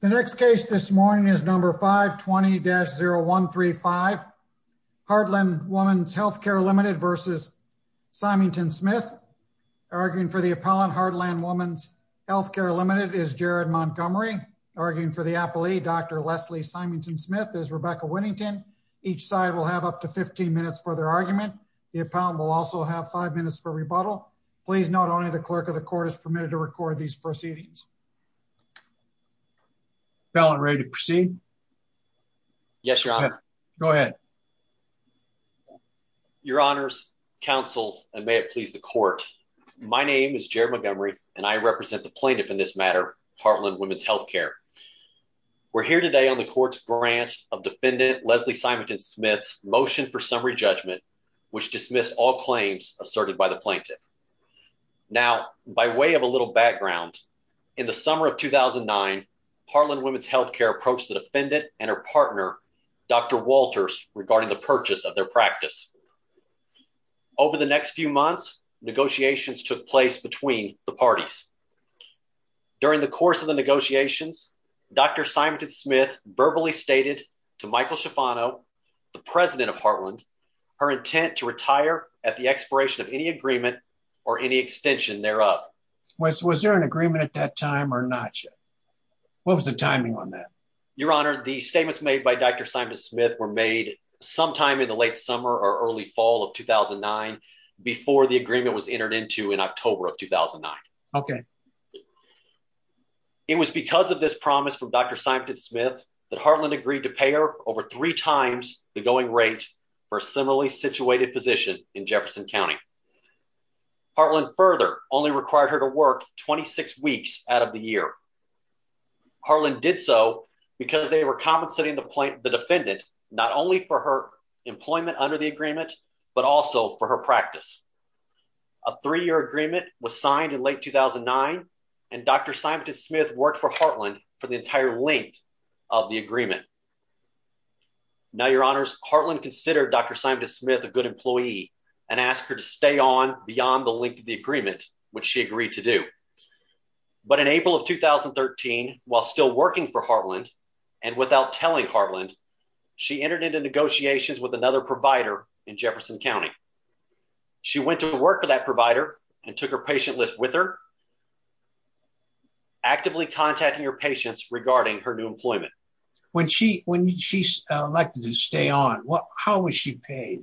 The next case this morning is number 520-0135, Heartland Women's Healthcare, Ltd. v. Simonton-Smith. Arguing for the appellant, Heartland Women's Healthcare, Ltd. is Jared Montgomery. Arguing for the appellee, Dr. Leslie Simonton-Smith, is Rebecca Winnington. Each side will have up to 15 minutes for their argument. The appellant will also have five minutes for rebuttal. Please note only the clerk of the court is permitted to record these proceedings. Appellant, ready to proceed? Yes, your honor. Go ahead. Your honors, counsel, and may it please the court. My name is Jared Montgomery and I represent the plaintiff in this matter, Heartland Women's Healthcare. We're here today on the court's grant of defendant Leslie Simonton-Smith's motion for summary judgment which dismissed all claims asserted by the plaintiff. Now, by way of a little background, in the summer of 2009, Heartland Women's Healthcare approached the defendant and her partner, Dr. Walters, regarding the purchase of their practice. Over the next few months, negotiations took place between the parties. During the course of the negotiations, Dr. Simonton-Smith verbally stated to Michael Schifano, the president of Heartland, her intent to retire at the expiration of any agreement or any extension thereof. Was there an agreement at that time or not yet? What was the timing on that? Your honor, the statements made by Dr. Simonton-Smith were made sometime in the late summer or early fall of 2009 before the agreement was entered into in October of 2009. Okay. It was because of this promise from Dr. Simonton-Smith that Heartland agreed to pay her over three times the going rate for a similarly situated position in Jefferson County. Heartland further only required her to work 26 weeks out of the year. Heartland did so because they were compensating the plaintiff, the defendant, not only for her employment under the agreement but also for her practice. A three-year agreement was signed in late 2009 and Dr. Simonton-Smith worked for Heartland for the entire length of the agreement. Now your honors, Heartland considered Dr. Simonton-Smith a good employee and asked her to stay on beyond the length of the agreement, which she agreed to do. But in April of 2013, while still working for Heartland and without telling Heartland, she entered into negotiations with another provider in Jefferson County. She went to work for that provider and took her patient list with her, actively contacting her patients regarding her new employment. When she's elected to stay on, how was she paid?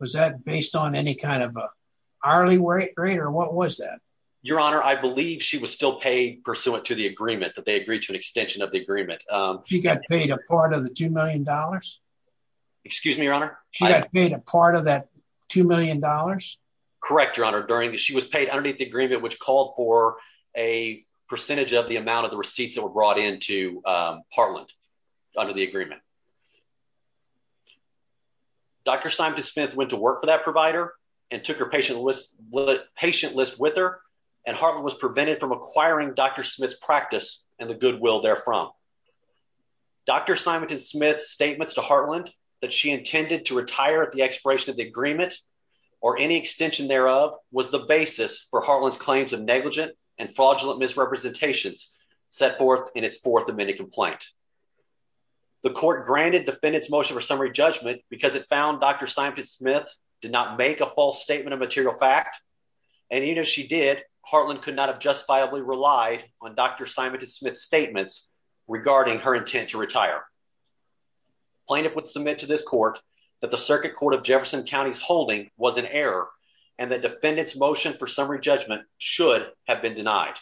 Was that based on any kind of hourly rate or what was that? Your honor, I believe she was still paid pursuant to the agreement that they agreed to an extension of the agreement. She got paid a part of that two million dollars? Correct, your honor. She was paid underneath the agreement which called for a percentage of the amount of the receipts that were brought into Heartland under the agreement. Dr. Simonton-Smith went to work for that provider and took her patient list with her and Heartland was prevented from acquiring Dr. Smith's the goodwill therefrom. Dr. Simonton-Smith's statements to Heartland that she intended to retire at the expiration of the agreement or any extension thereof was the basis for Heartland's claims of negligent and fraudulent misrepresentations set forth in its fourth amended complaint. The court granted defendants motion for summary judgment because it found Dr. Simonton-Smith did not make a false statement of material fact and even if she did, Heartland could not have justifiably relied on Dr. Simonton-Smith's statements regarding her intent to retire. Plaintiff would submit to this court that the circuit court of Jefferson County's holding was an error and the defendant's motion for summary judgment should have been denied.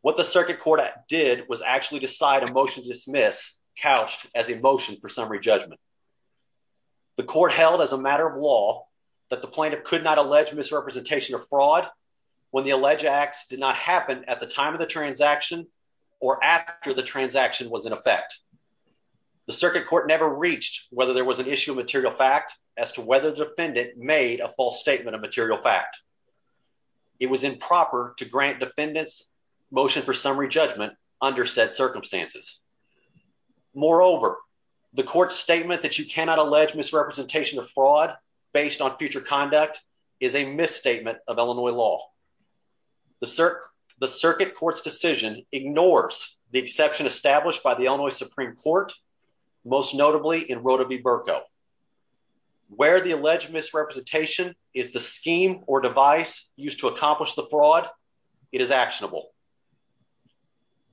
What the circuit court did was actually decide a motion to dismiss couched as a motion for summary judgment. The court held as a matter of law that the plaintiff could not allege misrepresentation of fraud when the alleged acts did not happen at the time of the transaction or after the transaction was in effect. The circuit court never reached whether there was an issue of material fact as to whether the defendant made a false statement of material fact. It was improper to grant defendants motion for summary judgment under said circumstances. Moreover, the court's statement that you cannot allege misrepresentation of fraud based on future conduct is a misstatement of Illinois law. The circuit court's decision ignores the exception established by the Illinois Supreme Court, most notably in Rota v. Berko. Where the alleged misrepresentation is the scheme or device used to accomplish the fraud, it is actionable.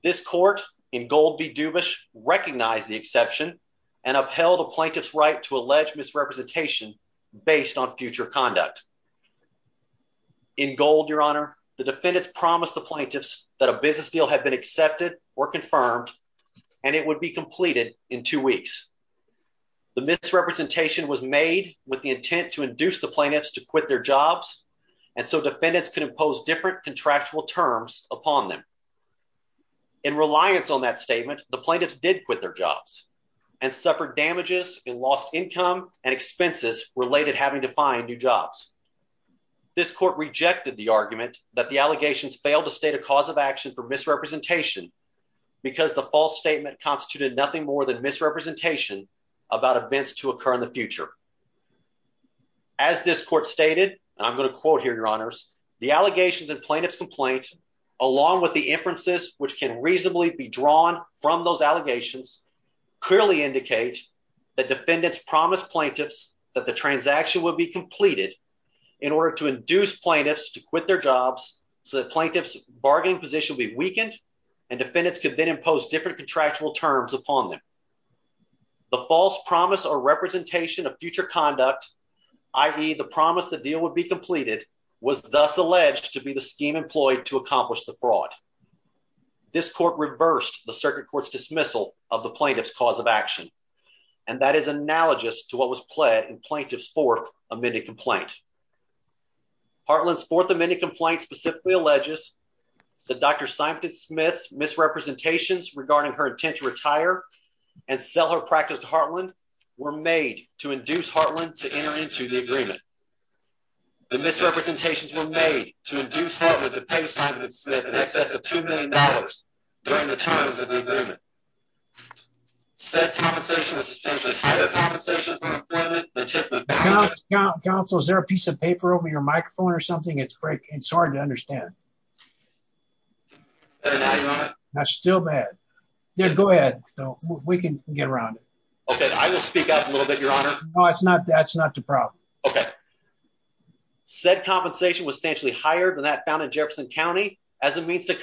This court in Gold v. Dubish recognized the exception and upheld the based on future conduct. In Gold, Your Honor, the defendants promised the plaintiffs that a business deal had been accepted or confirmed and it would be completed in two weeks. The misrepresentation was made with the intent to induce the plaintiffs to quit their jobs and so defendants could impose different contractual terms upon them. In reliance on that statement, the plaintiffs did quit their jobs and suffered damages and lost income and having to find new jobs. This court rejected the argument that the allegations failed to state a cause of action for misrepresentation because the false statement constituted nothing more than misrepresentation about events to occur in the future. As this court stated, and I'm going to quote here, Your Honors, the allegations and plaintiff's complaint, along with the inferences which can reasonably be drawn from those allegations, clearly indicate that defendants promised plaintiffs that the transaction would be completed in order to induce plaintiffs to quit their jobs so that plaintiff's bargaining position be weakened and defendants could then impose different contractual terms upon them. The false promise or representation of future conduct, i.e. the promise the deal would be completed, was thus alleged to be the scheme employed to accomplish the fraud. This court reversed the circuit court's dismissal of the plaintiff's cause of action and that is analogous to what was pled in plaintiff's fourth amended complaint. Heartland's fourth amended complaint specifically alleges that Dr. Simon Smith's misrepresentations regarding her intent to retire and sell her practice to Heartland were made to induce Heartland to enter into the agreement. The misrepresentations were made to induce Heartland to pay Simon Smith in excess of two million dollars during the time of the agreement. Said compensation was substantially higher than that found in Jefferson County as a means to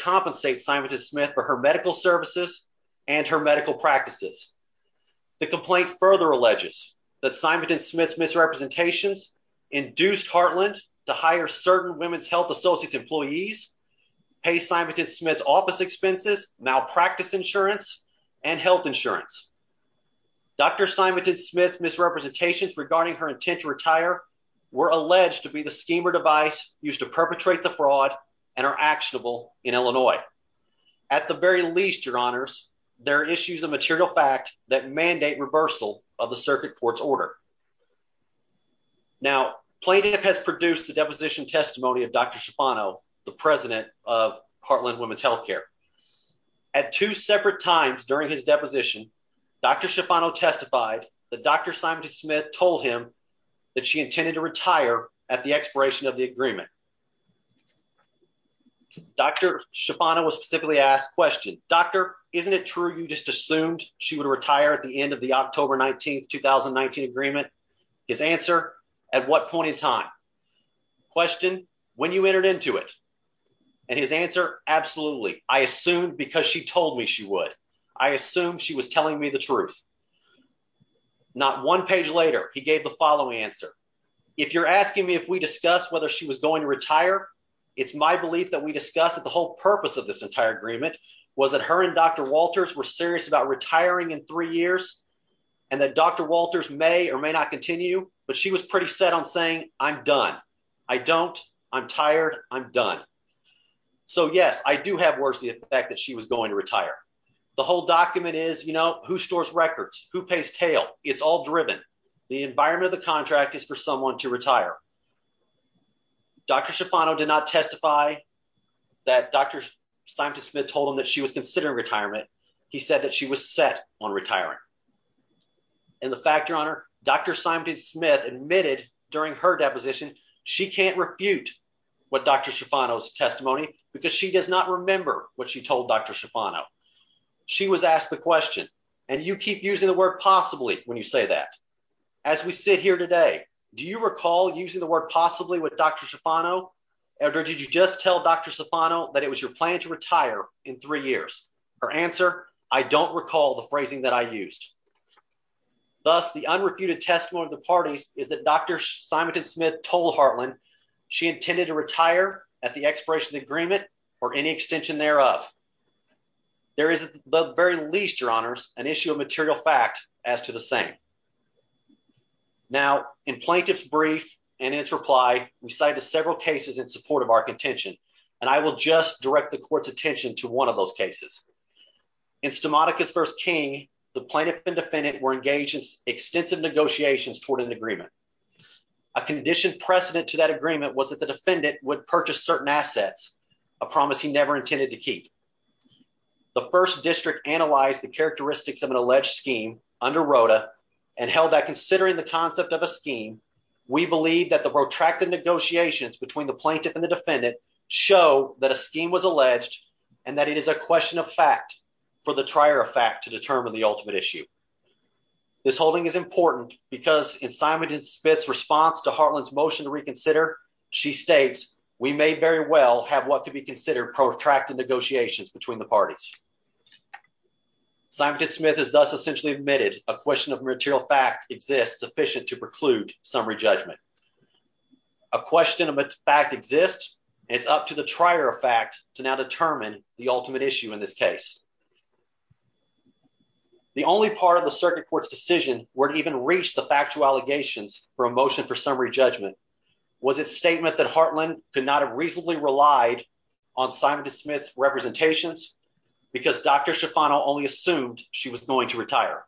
The complaint further alleges that Simon Smith's misrepresentations induced Heartland to hire certain Women's Health Associates employees, pay Simon Smith's office expenses, malpractice insurance, and health insurance. Dr. Simon Smith's misrepresentations regarding her intent to retire were alleged to be the scheme or device used to perpetrate the fraud and are actionable in Illinois. At the very least, your honors, there are issues of material fact that mandate reversal of the circuit court's order. Now, plaintiff has produced the deposition testimony of Dr. Schifano, the president of Heartland Women's Health Care. At two separate times during his deposition, Dr. Schifano testified that Dr. Simon Smith told him that she intended to retire at the expiration of the agreement. Dr. Schifano was specifically asked question, doctor, isn't it true you just assumed she would retire at the end of the October 19th, 2019 agreement? His answer, at what point in time? Question, when you entered into it? And his answer, absolutely. I assumed because she told me she would. I assumed she was telling me the truth. Not one page later, he gave the following answer. If you're asking me if we discuss whether she was going to retire, it's my belief that we discuss that the whole purpose of this entire agreement was that her and Dr. Walters were serious about retiring in three years, and that Dr. Walters may or may not continue, but she was pretty set on saying, I'm done. I don't, I'm tired, I'm done. So yes, I do have worse the fact that she was going to retire. The whole document is, you know, who stores records, who pays tail, it's all driven. The environment of the contract is for someone to retire. Dr. Schifano did not testify that Dr. Simonton Smith told him that she was considering retirement. He said that she was set on retiring. And the fact, your honor, Dr. Simonton Smith admitted during her deposition, she can't refute what Dr. Schifano's testimony, because she does not when you say that. As we sit here today, do you recall using the word possibly with Dr. Schifano, or did you just tell Dr. Schifano that it was your plan to retire in three years? Her answer, I don't recall the phrasing that I used. Thus, the unrefuted testimony of the parties is that Dr. Simonton Smith told Hartland she intended to retire at the expiration of the agreement, or any extension thereof. There is at the very least, your honors, an issue of material fact as to the same. Now, in plaintiff's brief and its reply, we cited several cases in support of our contention, and I will just direct the court's attention to one of those cases. In Stamatakis v. King, the plaintiff and defendant were engaged in extensive negotiations toward an agreement. A conditioned precedent to that agreement was that the defendant would purchase certain assets, a promise he never intended to keep. The first district analyzed the characteristics of an alleged scheme under ROTA, and held that considering the concept of a scheme, we believe that the protracted negotiations between the plaintiff and the defendant show that a scheme was alleged, and that it is a question of fact for the trier of fact to determine the ultimate issue. This holding is important because in Simonton Smith's response to Hartland's motion to reconsider, she states, we may very well have what could be considered protracted negotiations between the parties. Simonton Smith has thus essentially admitted a question of material fact exists sufficient to preclude summary judgment. A question of fact exists, and it's up to the trier of fact to now determine the ultimate issue in this case. The only part of the circuit court's decision were to even reach the factual allegations for a motion for summary judgment. Was it a statement that Hartland could not have reasonably relied on Simonton Smith's representations because Dr. Schifano only assumed she was going to retire?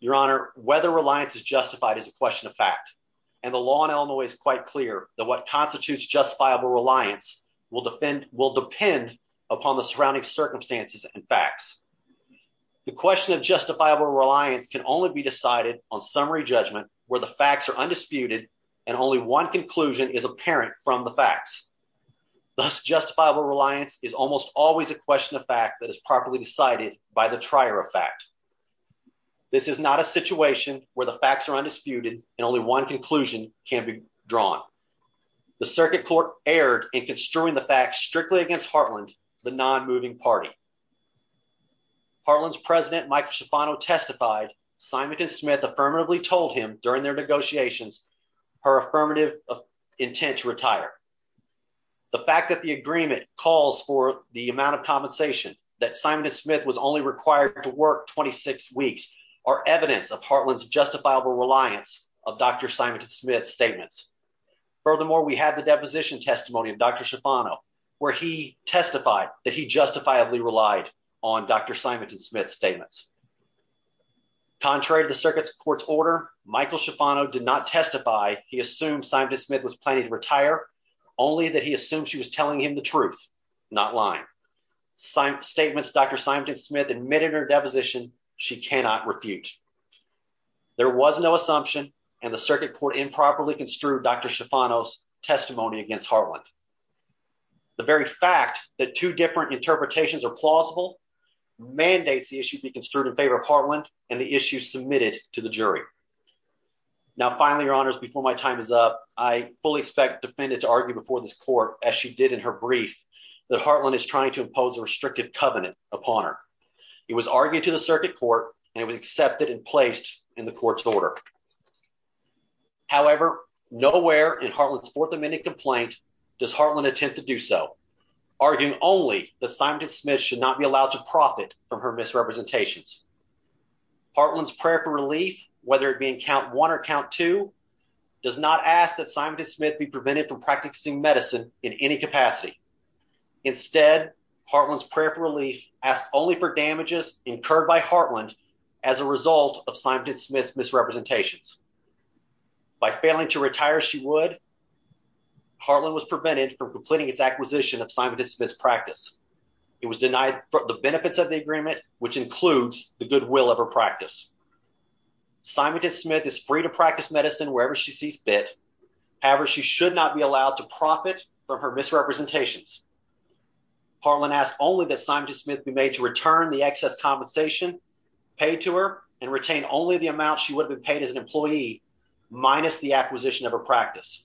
Your Honor, whether reliance is justified is a question of fact, and the law in Illinois is quite clear that what constitutes justifiable reliance will depend upon the surrounding circumstances and facts. The question of justifiable reliance can only be decided on summary judgment where the facts are undisputed and only one conclusion is apparent from the facts. Thus, justifiable reliance is almost always a question of fact that is properly decided by the trier of fact. This is not a situation where the facts are undisputed and only one conclusion can be drawn. The circuit court erred in construing the facts strictly against Hartland, the non-moving party. Hartland's president Michael Schifano testified Simonton Smith affirmatively told him during their negotiations her affirmative intent to retire. The fact that the agreement calls for the amount of compensation that Simonton Smith was only required to work 26 weeks are evidence of Hartland's justifiable reliance of Dr. Simonton justifiably relied on Dr. Simonton Smith's statements. Contrary to the circuit's court's order, Michael Schifano did not testify he assumed Simonton Smith was planning to retire, only that he assumed she was telling him the truth, not lying. Statements Dr. Simonton Smith admitted in her deposition she cannot refute. There was no assumption and the circuit court improperly construed Dr. Schifano's testimony against Hartland. The very fact that two different interpretations are plausible mandates the issue be construed in favor of Hartland and the issue submitted to the jury. Now finally your honors before my time is up I fully expect defendant to argue before this court as she did in her brief that Hartland is trying to impose a restrictive covenant upon her. It was argued to the circuit court and it was accepted and placed in the court's order. However, nowhere in Hartland's Fourth Amendment complaint does Hartland attempt to do so, arguing only that Simonton Smith should not be allowed to profit from her misrepresentations. Hartland's prayer for relief, whether it be in count one or count two, does not ask that Simonton Smith be prevented from practicing medicine in any capacity. Instead, Hartland's prayer for relief asked only for damages incurred by Hartland as a result of Simonton Smith's misrepresentations. By failing to retire she would, Hartland was prevented from completing its acquisition of Simonton Smith's practice. It was denied the benefits of the agreement, which includes the goodwill of her practice. Simonton Smith is free to practice medicine wherever she sees fit. However, she should not be allowed to profit from her misrepresentations. Hartland asked only that Simonton Smith be made to return the excess compensation paid to her and retain only the amount she would have been paid as an employee minus the acquisition of her practice.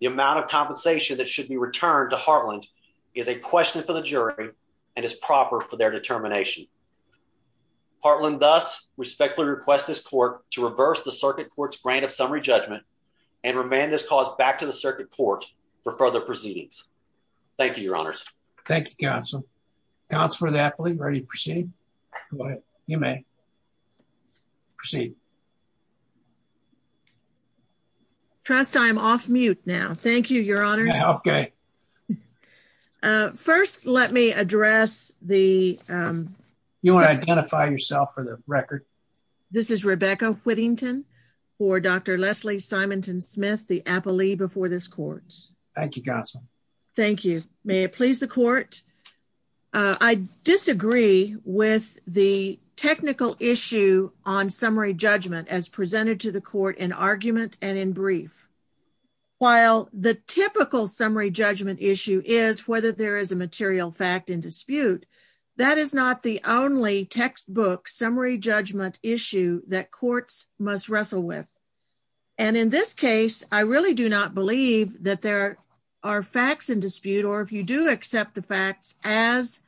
The amount of compensation that should be returned to Hartland is a question for the jury and is proper for their determination. Hartland thus respectfully requests this court to reverse the circuit court's grant of summary judgment and remand this cause back to the circuit court for further proceedings. Thank you, your honors. Thank you, counsel. Counsel for the appellee, ready to proceed? Go ahead, you may. Proceed. Trust, I am off mute now. Thank you, your honors. Okay. First, let me address the- You want to identify yourself for the record? This is Rebecca Whittington for Dr. Leslie Simonton Smith, the appellee before this court. Thank you, counsel. Thank you. May it please the court? I disagree with the technical issue on summary judgment as presented to the court in argument and in brief. While the typical summary judgment issue is whether there is a material fact in dispute, that is not the only textbook summary judgment issue that courts must wrestle with. And in this case, I really do not believe that there are facts in dispute or if you do accept the facts as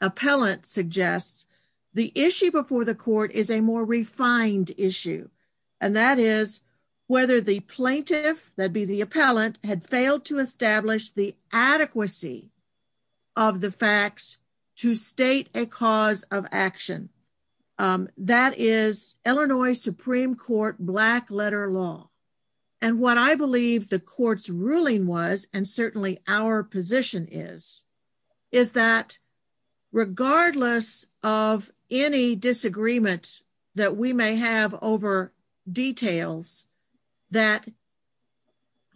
appellant suggests, the issue before the court is a more refined issue. And that is whether the plaintiff, that'd be the appellant, had failed to establish the adequacy of the facts to state a cause of ruling was, and certainly our position is, is that regardless of any disagreement that we may have over details, that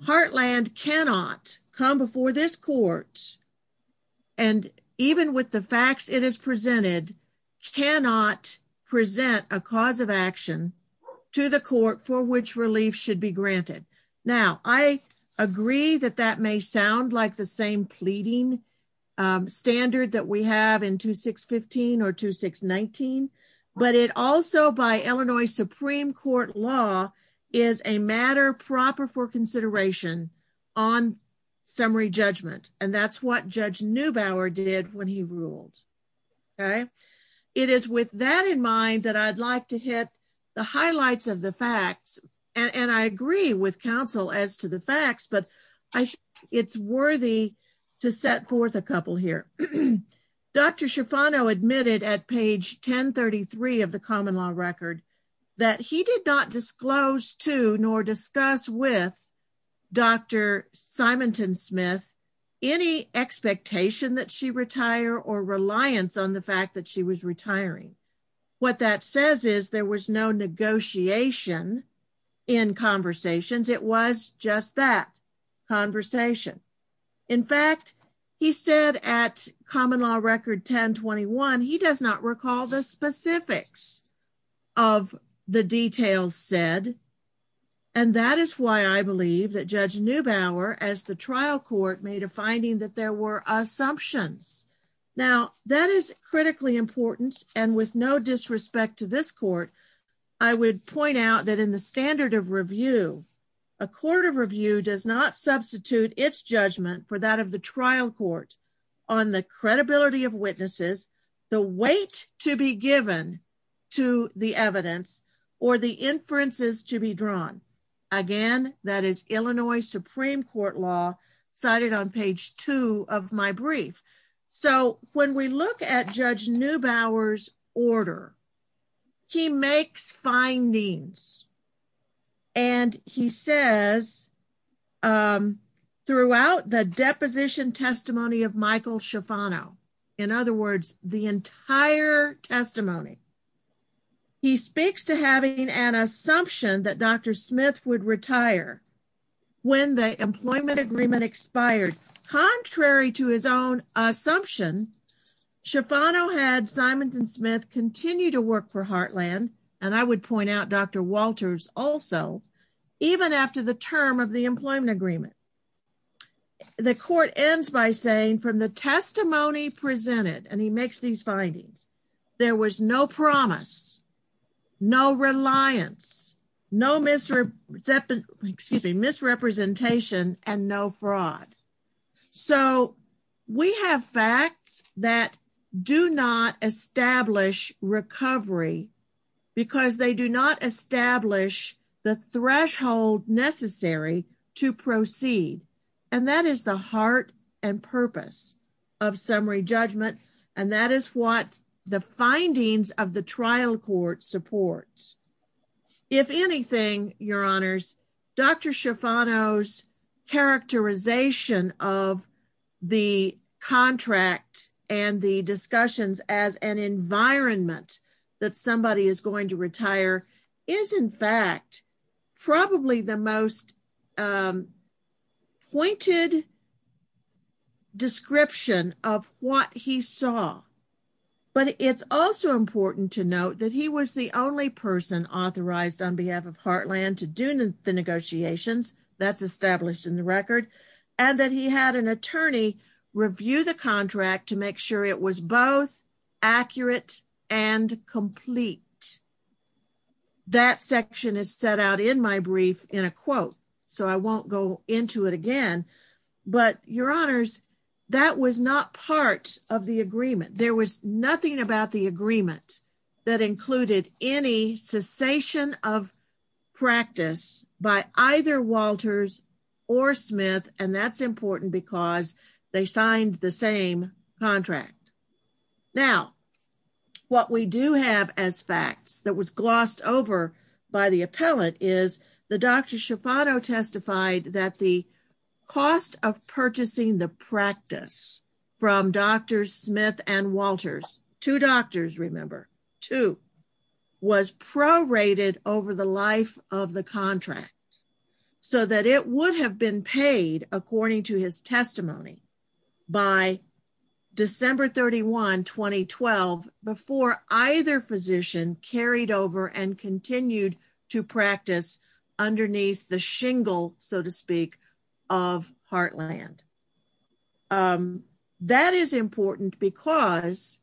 Heartland cannot come before this court, and even with the facts it has presented, cannot present a cause of action to the court for which relief should be granted. Now, I agree that that may sound like the same pleading standard that we have in 2615 or 2619, but it also by Illinois Supreme Court law is a matter proper for consideration on summary judgment. And that's what it is with that in mind that I'd like to hit the highlights of the facts. And I agree with counsel as to the facts, but I think it's worthy to set forth a couple here. Dr. Schifano admitted at page 1033 of the common law record that he did not disclose to nor discuss with Dr. Schifano that he was retiring. What that says is there was no negotiation in conversations. It was just that conversation. In fact, he said at common law record 1021, he does not recall the specifics of the details said. And that is why I believe that Judge Neubauer, as the trial court, made a finding that there were assumptions. Now, that is critically important, and with no disrespect to this court, I would point out that in the standard of review, a court of review does not substitute its judgment for that of the trial court on the credibility of witnesses, the weight to be given to the evidence, or the inferences to be drawn. Again, that is Illinois Supreme Court law cited on page two of my brief. So when we look at Judge Neubauer's order, he makes findings. And he says throughout the deposition testimony of Michael Schifano, in other words, the entire testimony, he speaks to having an assumption that Dr. Smith would retire when the employment agreement expired. Contrary to his own assumption, Schifano had Simonton Smith continue to work for Heartland, and I would point out Dr. Walters also, even after the term of the employment agreement. The court ends by saying from the testimony presented, and he makes these findings, there was no promise, no reliance, no misrepresentation, and no fraud. So we have facts that do not establish recovery, because they do not establish the threshold necessary to proceed. And that is the heart and purpose of summary judgment. And that is what the findings of the trial court supports. If anything, your honors, Dr. Schifano's characterization of the contract and the discussions as an environment that somebody is going to retire is, in fact, probably the most pointed description of what he saw. But it's also important to note that he was the only person authorized on behalf of Heartland to do the negotiations, that's established in the record, and that he had an attorney review the contract. That section is set out in my brief in a quote, so I won't go into it again. But your honors, that was not part of the agreement. There was nothing about the agreement that included any cessation of practice by either Walters or Smith, and that's important because they signed the same contract. Now, what we do have as facts that was glossed over by the appellate is the Dr. Schifano testified that the cost of purchasing the practice from Drs. Smith and Walters, two doctors remember, two, was prorated over the life of the contract so that it would have been paid, according to his December 31, 2012, before either physician carried over and continued to practice underneath the shingle, so to speak, of Heartland. That is important because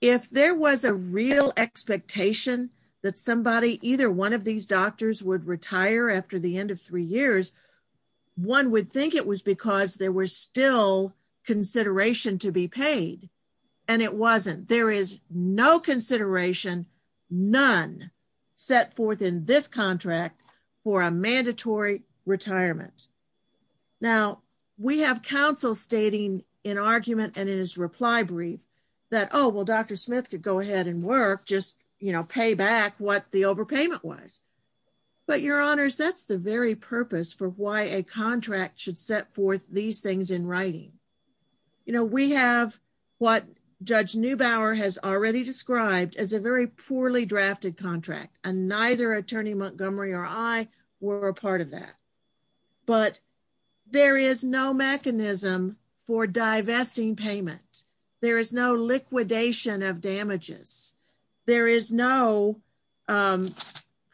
if there was a real expectation that somebody, either one of these doctors, would retire after the end of three years, one would think it was because there was still consideration to be paid, and it wasn't. There is no consideration, none, set forth in this contract for a mandatory retirement. Now, we have counsel stating in argument and in his reply brief that, oh, well, Dr. Smith could go ahead and work, just, pay back what the overpayment was, but, Your Honors, that's the very purpose for why a contract should set forth these things in writing. We have what Judge Neubauer has already described as a very poorly drafted contract, and neither Attorney Montgomery or I were a part of that, but there is no mechanism for divesting payment. There is no liquidation of damages. There is no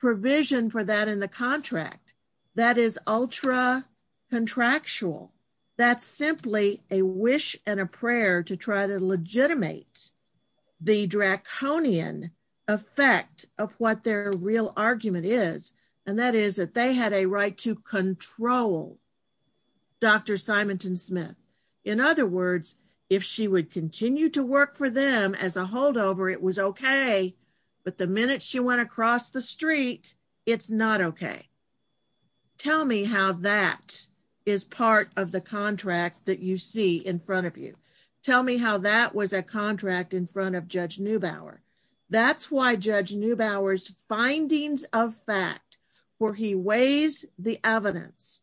provision for that in the contract. That is ultra-contractual. That's simply a wish and a prayer to try to legitimate the draconian effect of what their real argument is, and that is that they had a right to control Dr. Simonton Smith. In other words, if she would continue to work for them as a holdover, it was okay, but the minute she went across the street, it's not okay. Tell me how that is part of the contract that you see in front of you. Tell me how that was a part of the contract that you see in front of you. Judge Neubauer's findings of fact, where he weighs the evidence,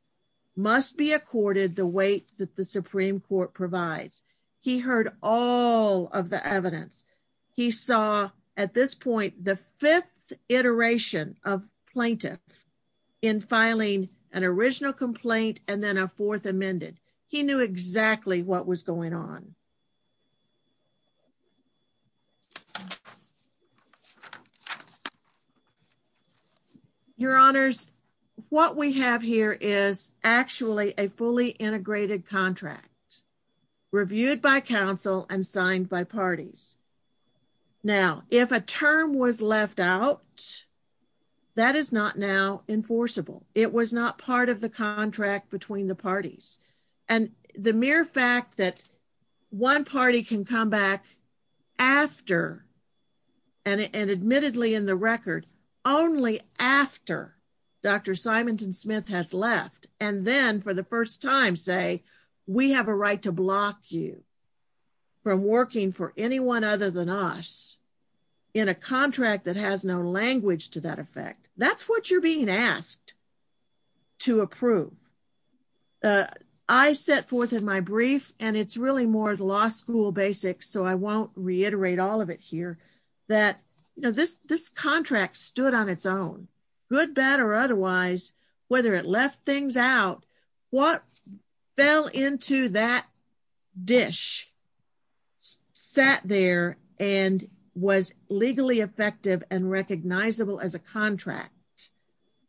must be accorded the weight that the Supreme Court provides. He heard all of the evidence. He saw, at this point, the fifth iteration of plaintiff in filing an original complaint and then a fourth amended. He knew exactly what was going on. Your Honors, what we have here is actually a fully integrated contract reviewed by counsel and signed by parties. Now, if a term was left out, that is not now enforceable. It was not part of the contract between the parties. The mere fact that one party can come back after, and admittedly in the record, only after Dr. Simonton Smith has left and then, for the first time, say, we have a right to block you from working for anyone other than us in a contract that has no language to that effect, that's what you're being asked to approve. I set forth in my brief, and it's really more law school basics, so I won't reiterate all of it here, that this contract stood on its own, good, bad, or otherwise, whether it left things out, what fell into that dish sat there and was legally effective and recognizable as a contract,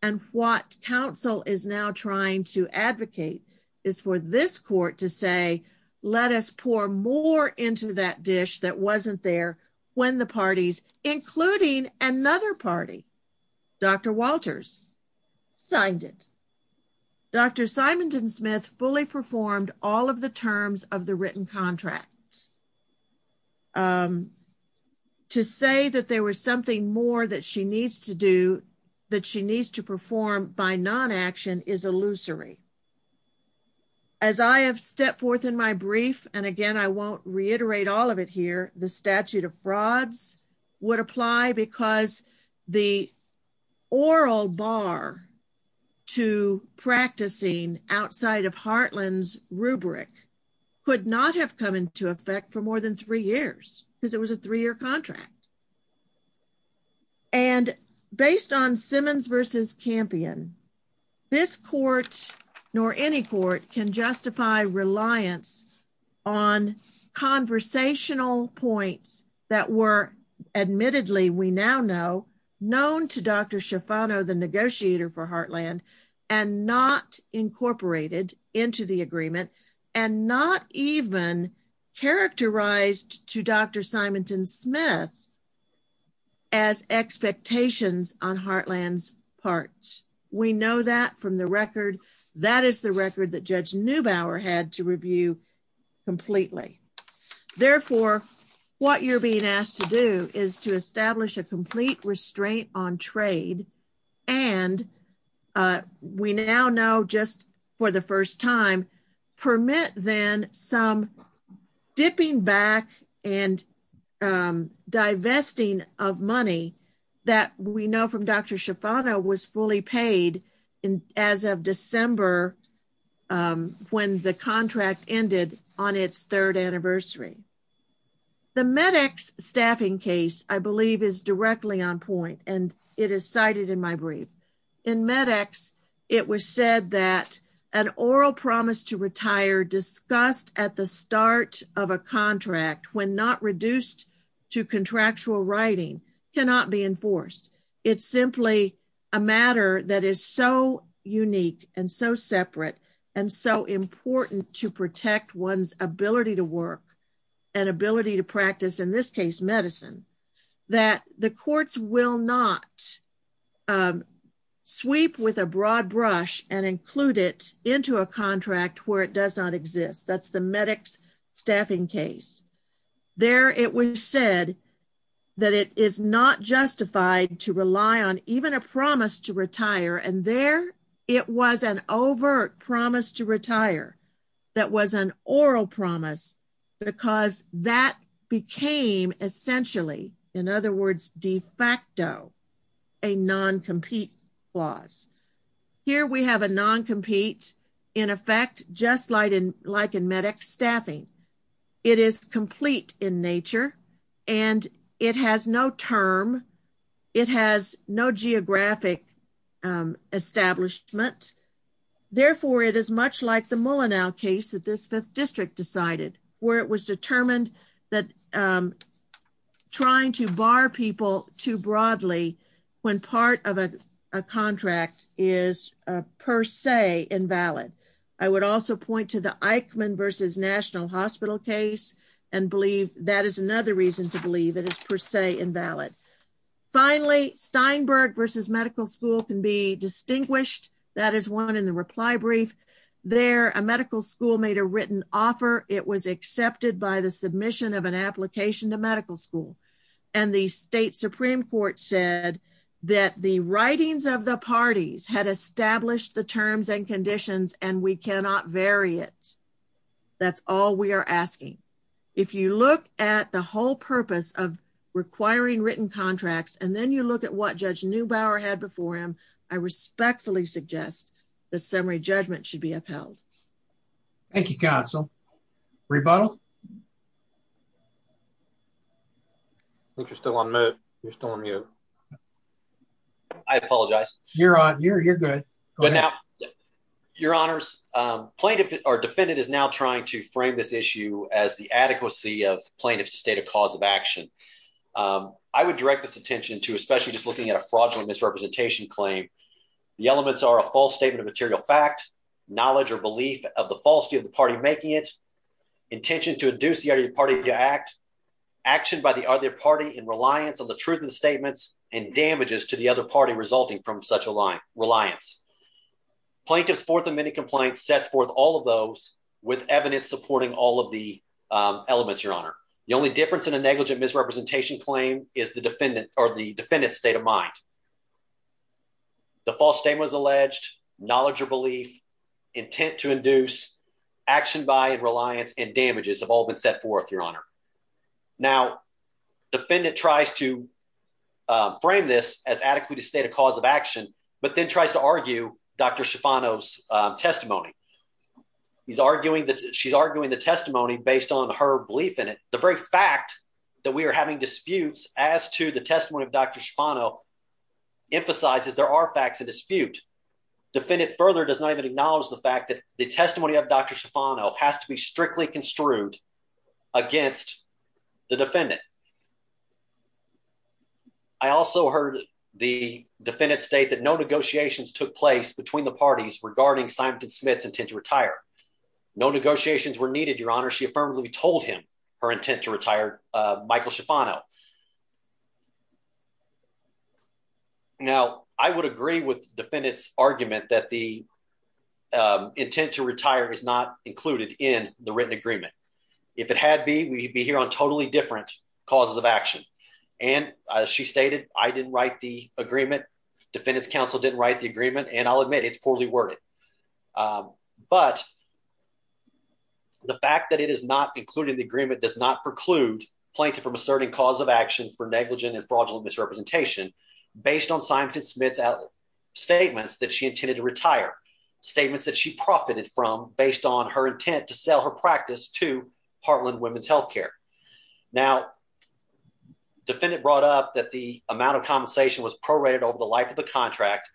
and what counsel is now trying to advocate is for this court to say, let us pour more into that dish that wasn't there when the parties, including another party, Dr. Walters, signed it. Dr. Simonton Smith fully performed all of the terms of the written contract. To say that there was something more that she needs to do, that she needs to perform by non-action is illusory. As I have stepped forth in my brief, and again, I won't reiterate all of it here, the statute of frauds would apply because the oral bar to practicing outside of come into effect for more than three years, because it was a three-year contract, and based on Simmons versus Campion, this court, nor any court, can justify reliance on conversational points that were admittedly, we now know, known to Dr. Schifano, the negotiator for Heartland, and not incorporated into the agreement, and not even characterized to Dr. Simonton Smith as expectations on Heartland's part. We know that from the record. That is the record that Judge Neubauer had to review completely. Therefore, what you're being asked to do is to establish a complete restraint on trade, and we now know just for the first time, permit then some dipping back and divesting of money that we know from Dr. Schifano was fully is directly on point, and it is cited in my brief. In MedEx, it was said that an oral promise to retire discussed at the start of a contract when not reduced to contractual writing cannot be enforced. It's simply a matter that is so unique and so separate and so important to protect one's work and ability to practice, in this case, medicine, that the courts will not sweep with a broad brush and include it into a contract where it does not exist. That's the MedEx staffing case. There it was said that it is not justified to rely on even a promise to retire, and there it was an overt promise to retire that was an oral promise because that became essentially, in other words, de facto, a non-compete clause. Here we have a non-compete in effect, just like in MedEx staffing. It is complete in nature, and it has no term. It is a non-specific establishment. Therefore, it is much like the Mullenow case that this fifth district decided, where it was determined that trying to bar people too broadly when part of a contract is per se invalid. I would also point to the Eichmann v. National Hospital case and believe that is another reason to believe it is per se invalid. Finally, Steinberg v. Medical School can be distinguished. That is one in the reply brief. There, a medical school made a written offer. It was accepted by the submission of an application to medical school, and the state Supreme Court said that the writings of the parties had established the terms and conditions, and we cannot vary it. That's all we are asking. If you look at the whole purpose of requiring written contracts, and then you look at what Judge Neubauer had before him, I respectfully suggest that summary judgment should be upheld. Thank you, counsel. Rebuttal? I think you're still on mute. You're still on mute. I apologize. You're on. You're good. Your honors, plaintiff or defendant is now trying to frame this issue as the adequacy of plaintiff's state of cause of action. I would direct this attention to especially just looking at a fraudulent misrepresentation claim. The elements are a false statement of material fact, knowledge or belief of the falsity of the party making it, intention to induce the other party to act, action by the other party in reliance on the truth of the statements, and damages to the other party resulting from such a reliance. Plaintiff's fourth amendment compliance sets forth all of those with evidence supporting all of the elements, your honor. The only difference in a negligent misrepresentation claim is the defendant or the defendant's state of mind. The false statement was alleged, knowledge or belief, intent to induce, action by, and reliance, and damages have all been set forth, your honor. Now, defendant tries to frame this as adequate state of cause of action, but then tries to argue Dr. Schifano's testimony. He's arguing that she's arguing the testimony based on her belief in it. The very fact that we are having disputes as to the testimony of Dr. Schifano emphasizes there are facts of dispute. Defendant further does not even acknowledge the fact that the testimony of Dr. Schifano has to be strictly construed against the defendant. I also heard the defendant state that no negotiations took place between the parties regarding Simon & Smith's intent to retire. No negotiations were needed, your honor. She affirmatively told him her intent to retire, Michael Schifano. Now, I would agree with defendant's argument that the on totally different causes of action, and as she stated, I didn't write the agreement. Defendant's counsel didn't write the agreement, and I'll admit it's poorly worded. But the fact that it is not included in the agreement does not preclude plaintiff from asserting cause of action for negligent and fraudulent misrepresentation based on Simon & Smith's statements that she intended to retire, statements that she profited from based on her Now, defendant brought up that the amount of compensation was prorated over the life of the contract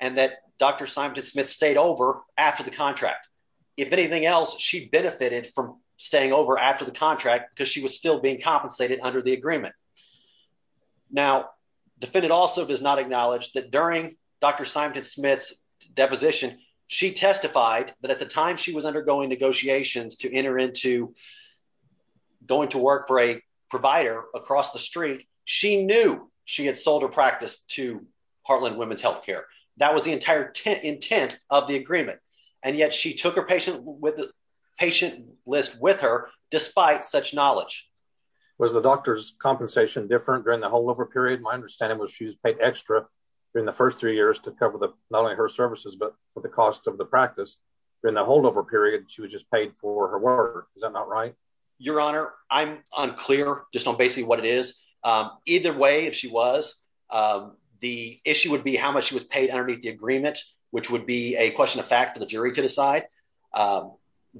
and that Dr. Simon & Smith stayed over after the contract. If anything else, she benefited from staying over after the contract because she was still being compensated under the agreement. Now, defendant also does not acknowledge that during Dr. Simon & Smith's deposition, she testified that at the time she was undergoing negotiations to enter into going to work for a provider across the street, she knew she had sold her practice to Heartland Women's Health Care. That was the entire intent of the agreement, and yet she took her patient with the patient list with her despite such knowledge. Was the doctor's compensation different during the holdover period? My understanding was she was paid extra during the first three years to cover the not only her services but for the cost of the practice. During the holdover period, she was just paid for her work. Is that not right? Your Honor, I'm unclear just on basically what it is. Either way, if she was, the issue would be how much she was paid underneath the agreement, which would be a question of fact for the jury to decide.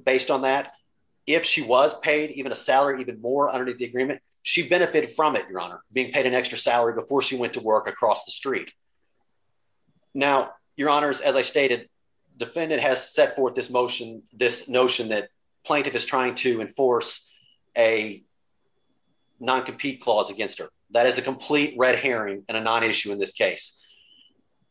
Based on that, if she was paid even a salary even more underneath the agreement, she benefited from it, Your Honor, being paid an extra salary before she went to work across the has set forth this notion that plaintiff is trying to enforce a non-compete clause against her. That is a complete red herring and a non-issue in this case.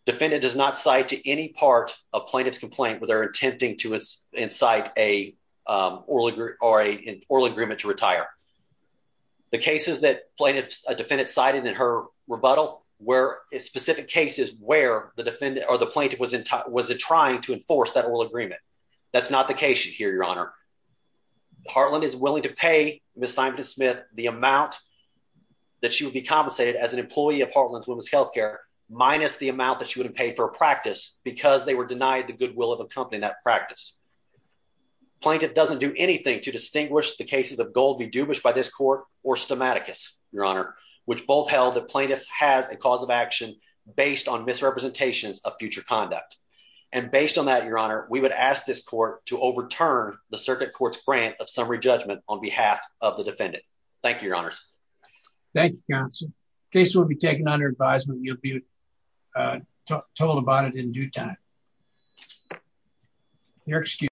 Defendant does not cite to any part of plaintiff's complaint where they're attempting to incite an oral agreement to retire. The cases that plaintiff's defendant cited in her rebuttal were specific cases where the defendant or the plaintiff was trying to enforce that oral agreement. That's not the case here, Your Honor. Hartland is willing to pay Ms. Simonton-Smith the amount that she would be compensated as an employee of Hartland's Women's Health Care minus the amount that she would have paid for a practice because they were denied the goodwill of accompanying that practice. Plaintiff doesn't do anything to distinguish the cases of Gold v. Dubish by this court or Stomaticus, Your Honor, which both held that plaintiff has a cause of action based on misrepresentations of future conduct. And based on that, Your Honor, we would ask this court to overturn the circuit court's grant of summary judgment on behalf of the defendant. Thank you, Your Honor. Thank you, counsel. Case will be taken under advisement. You'll be told about it in due time. Your excuse.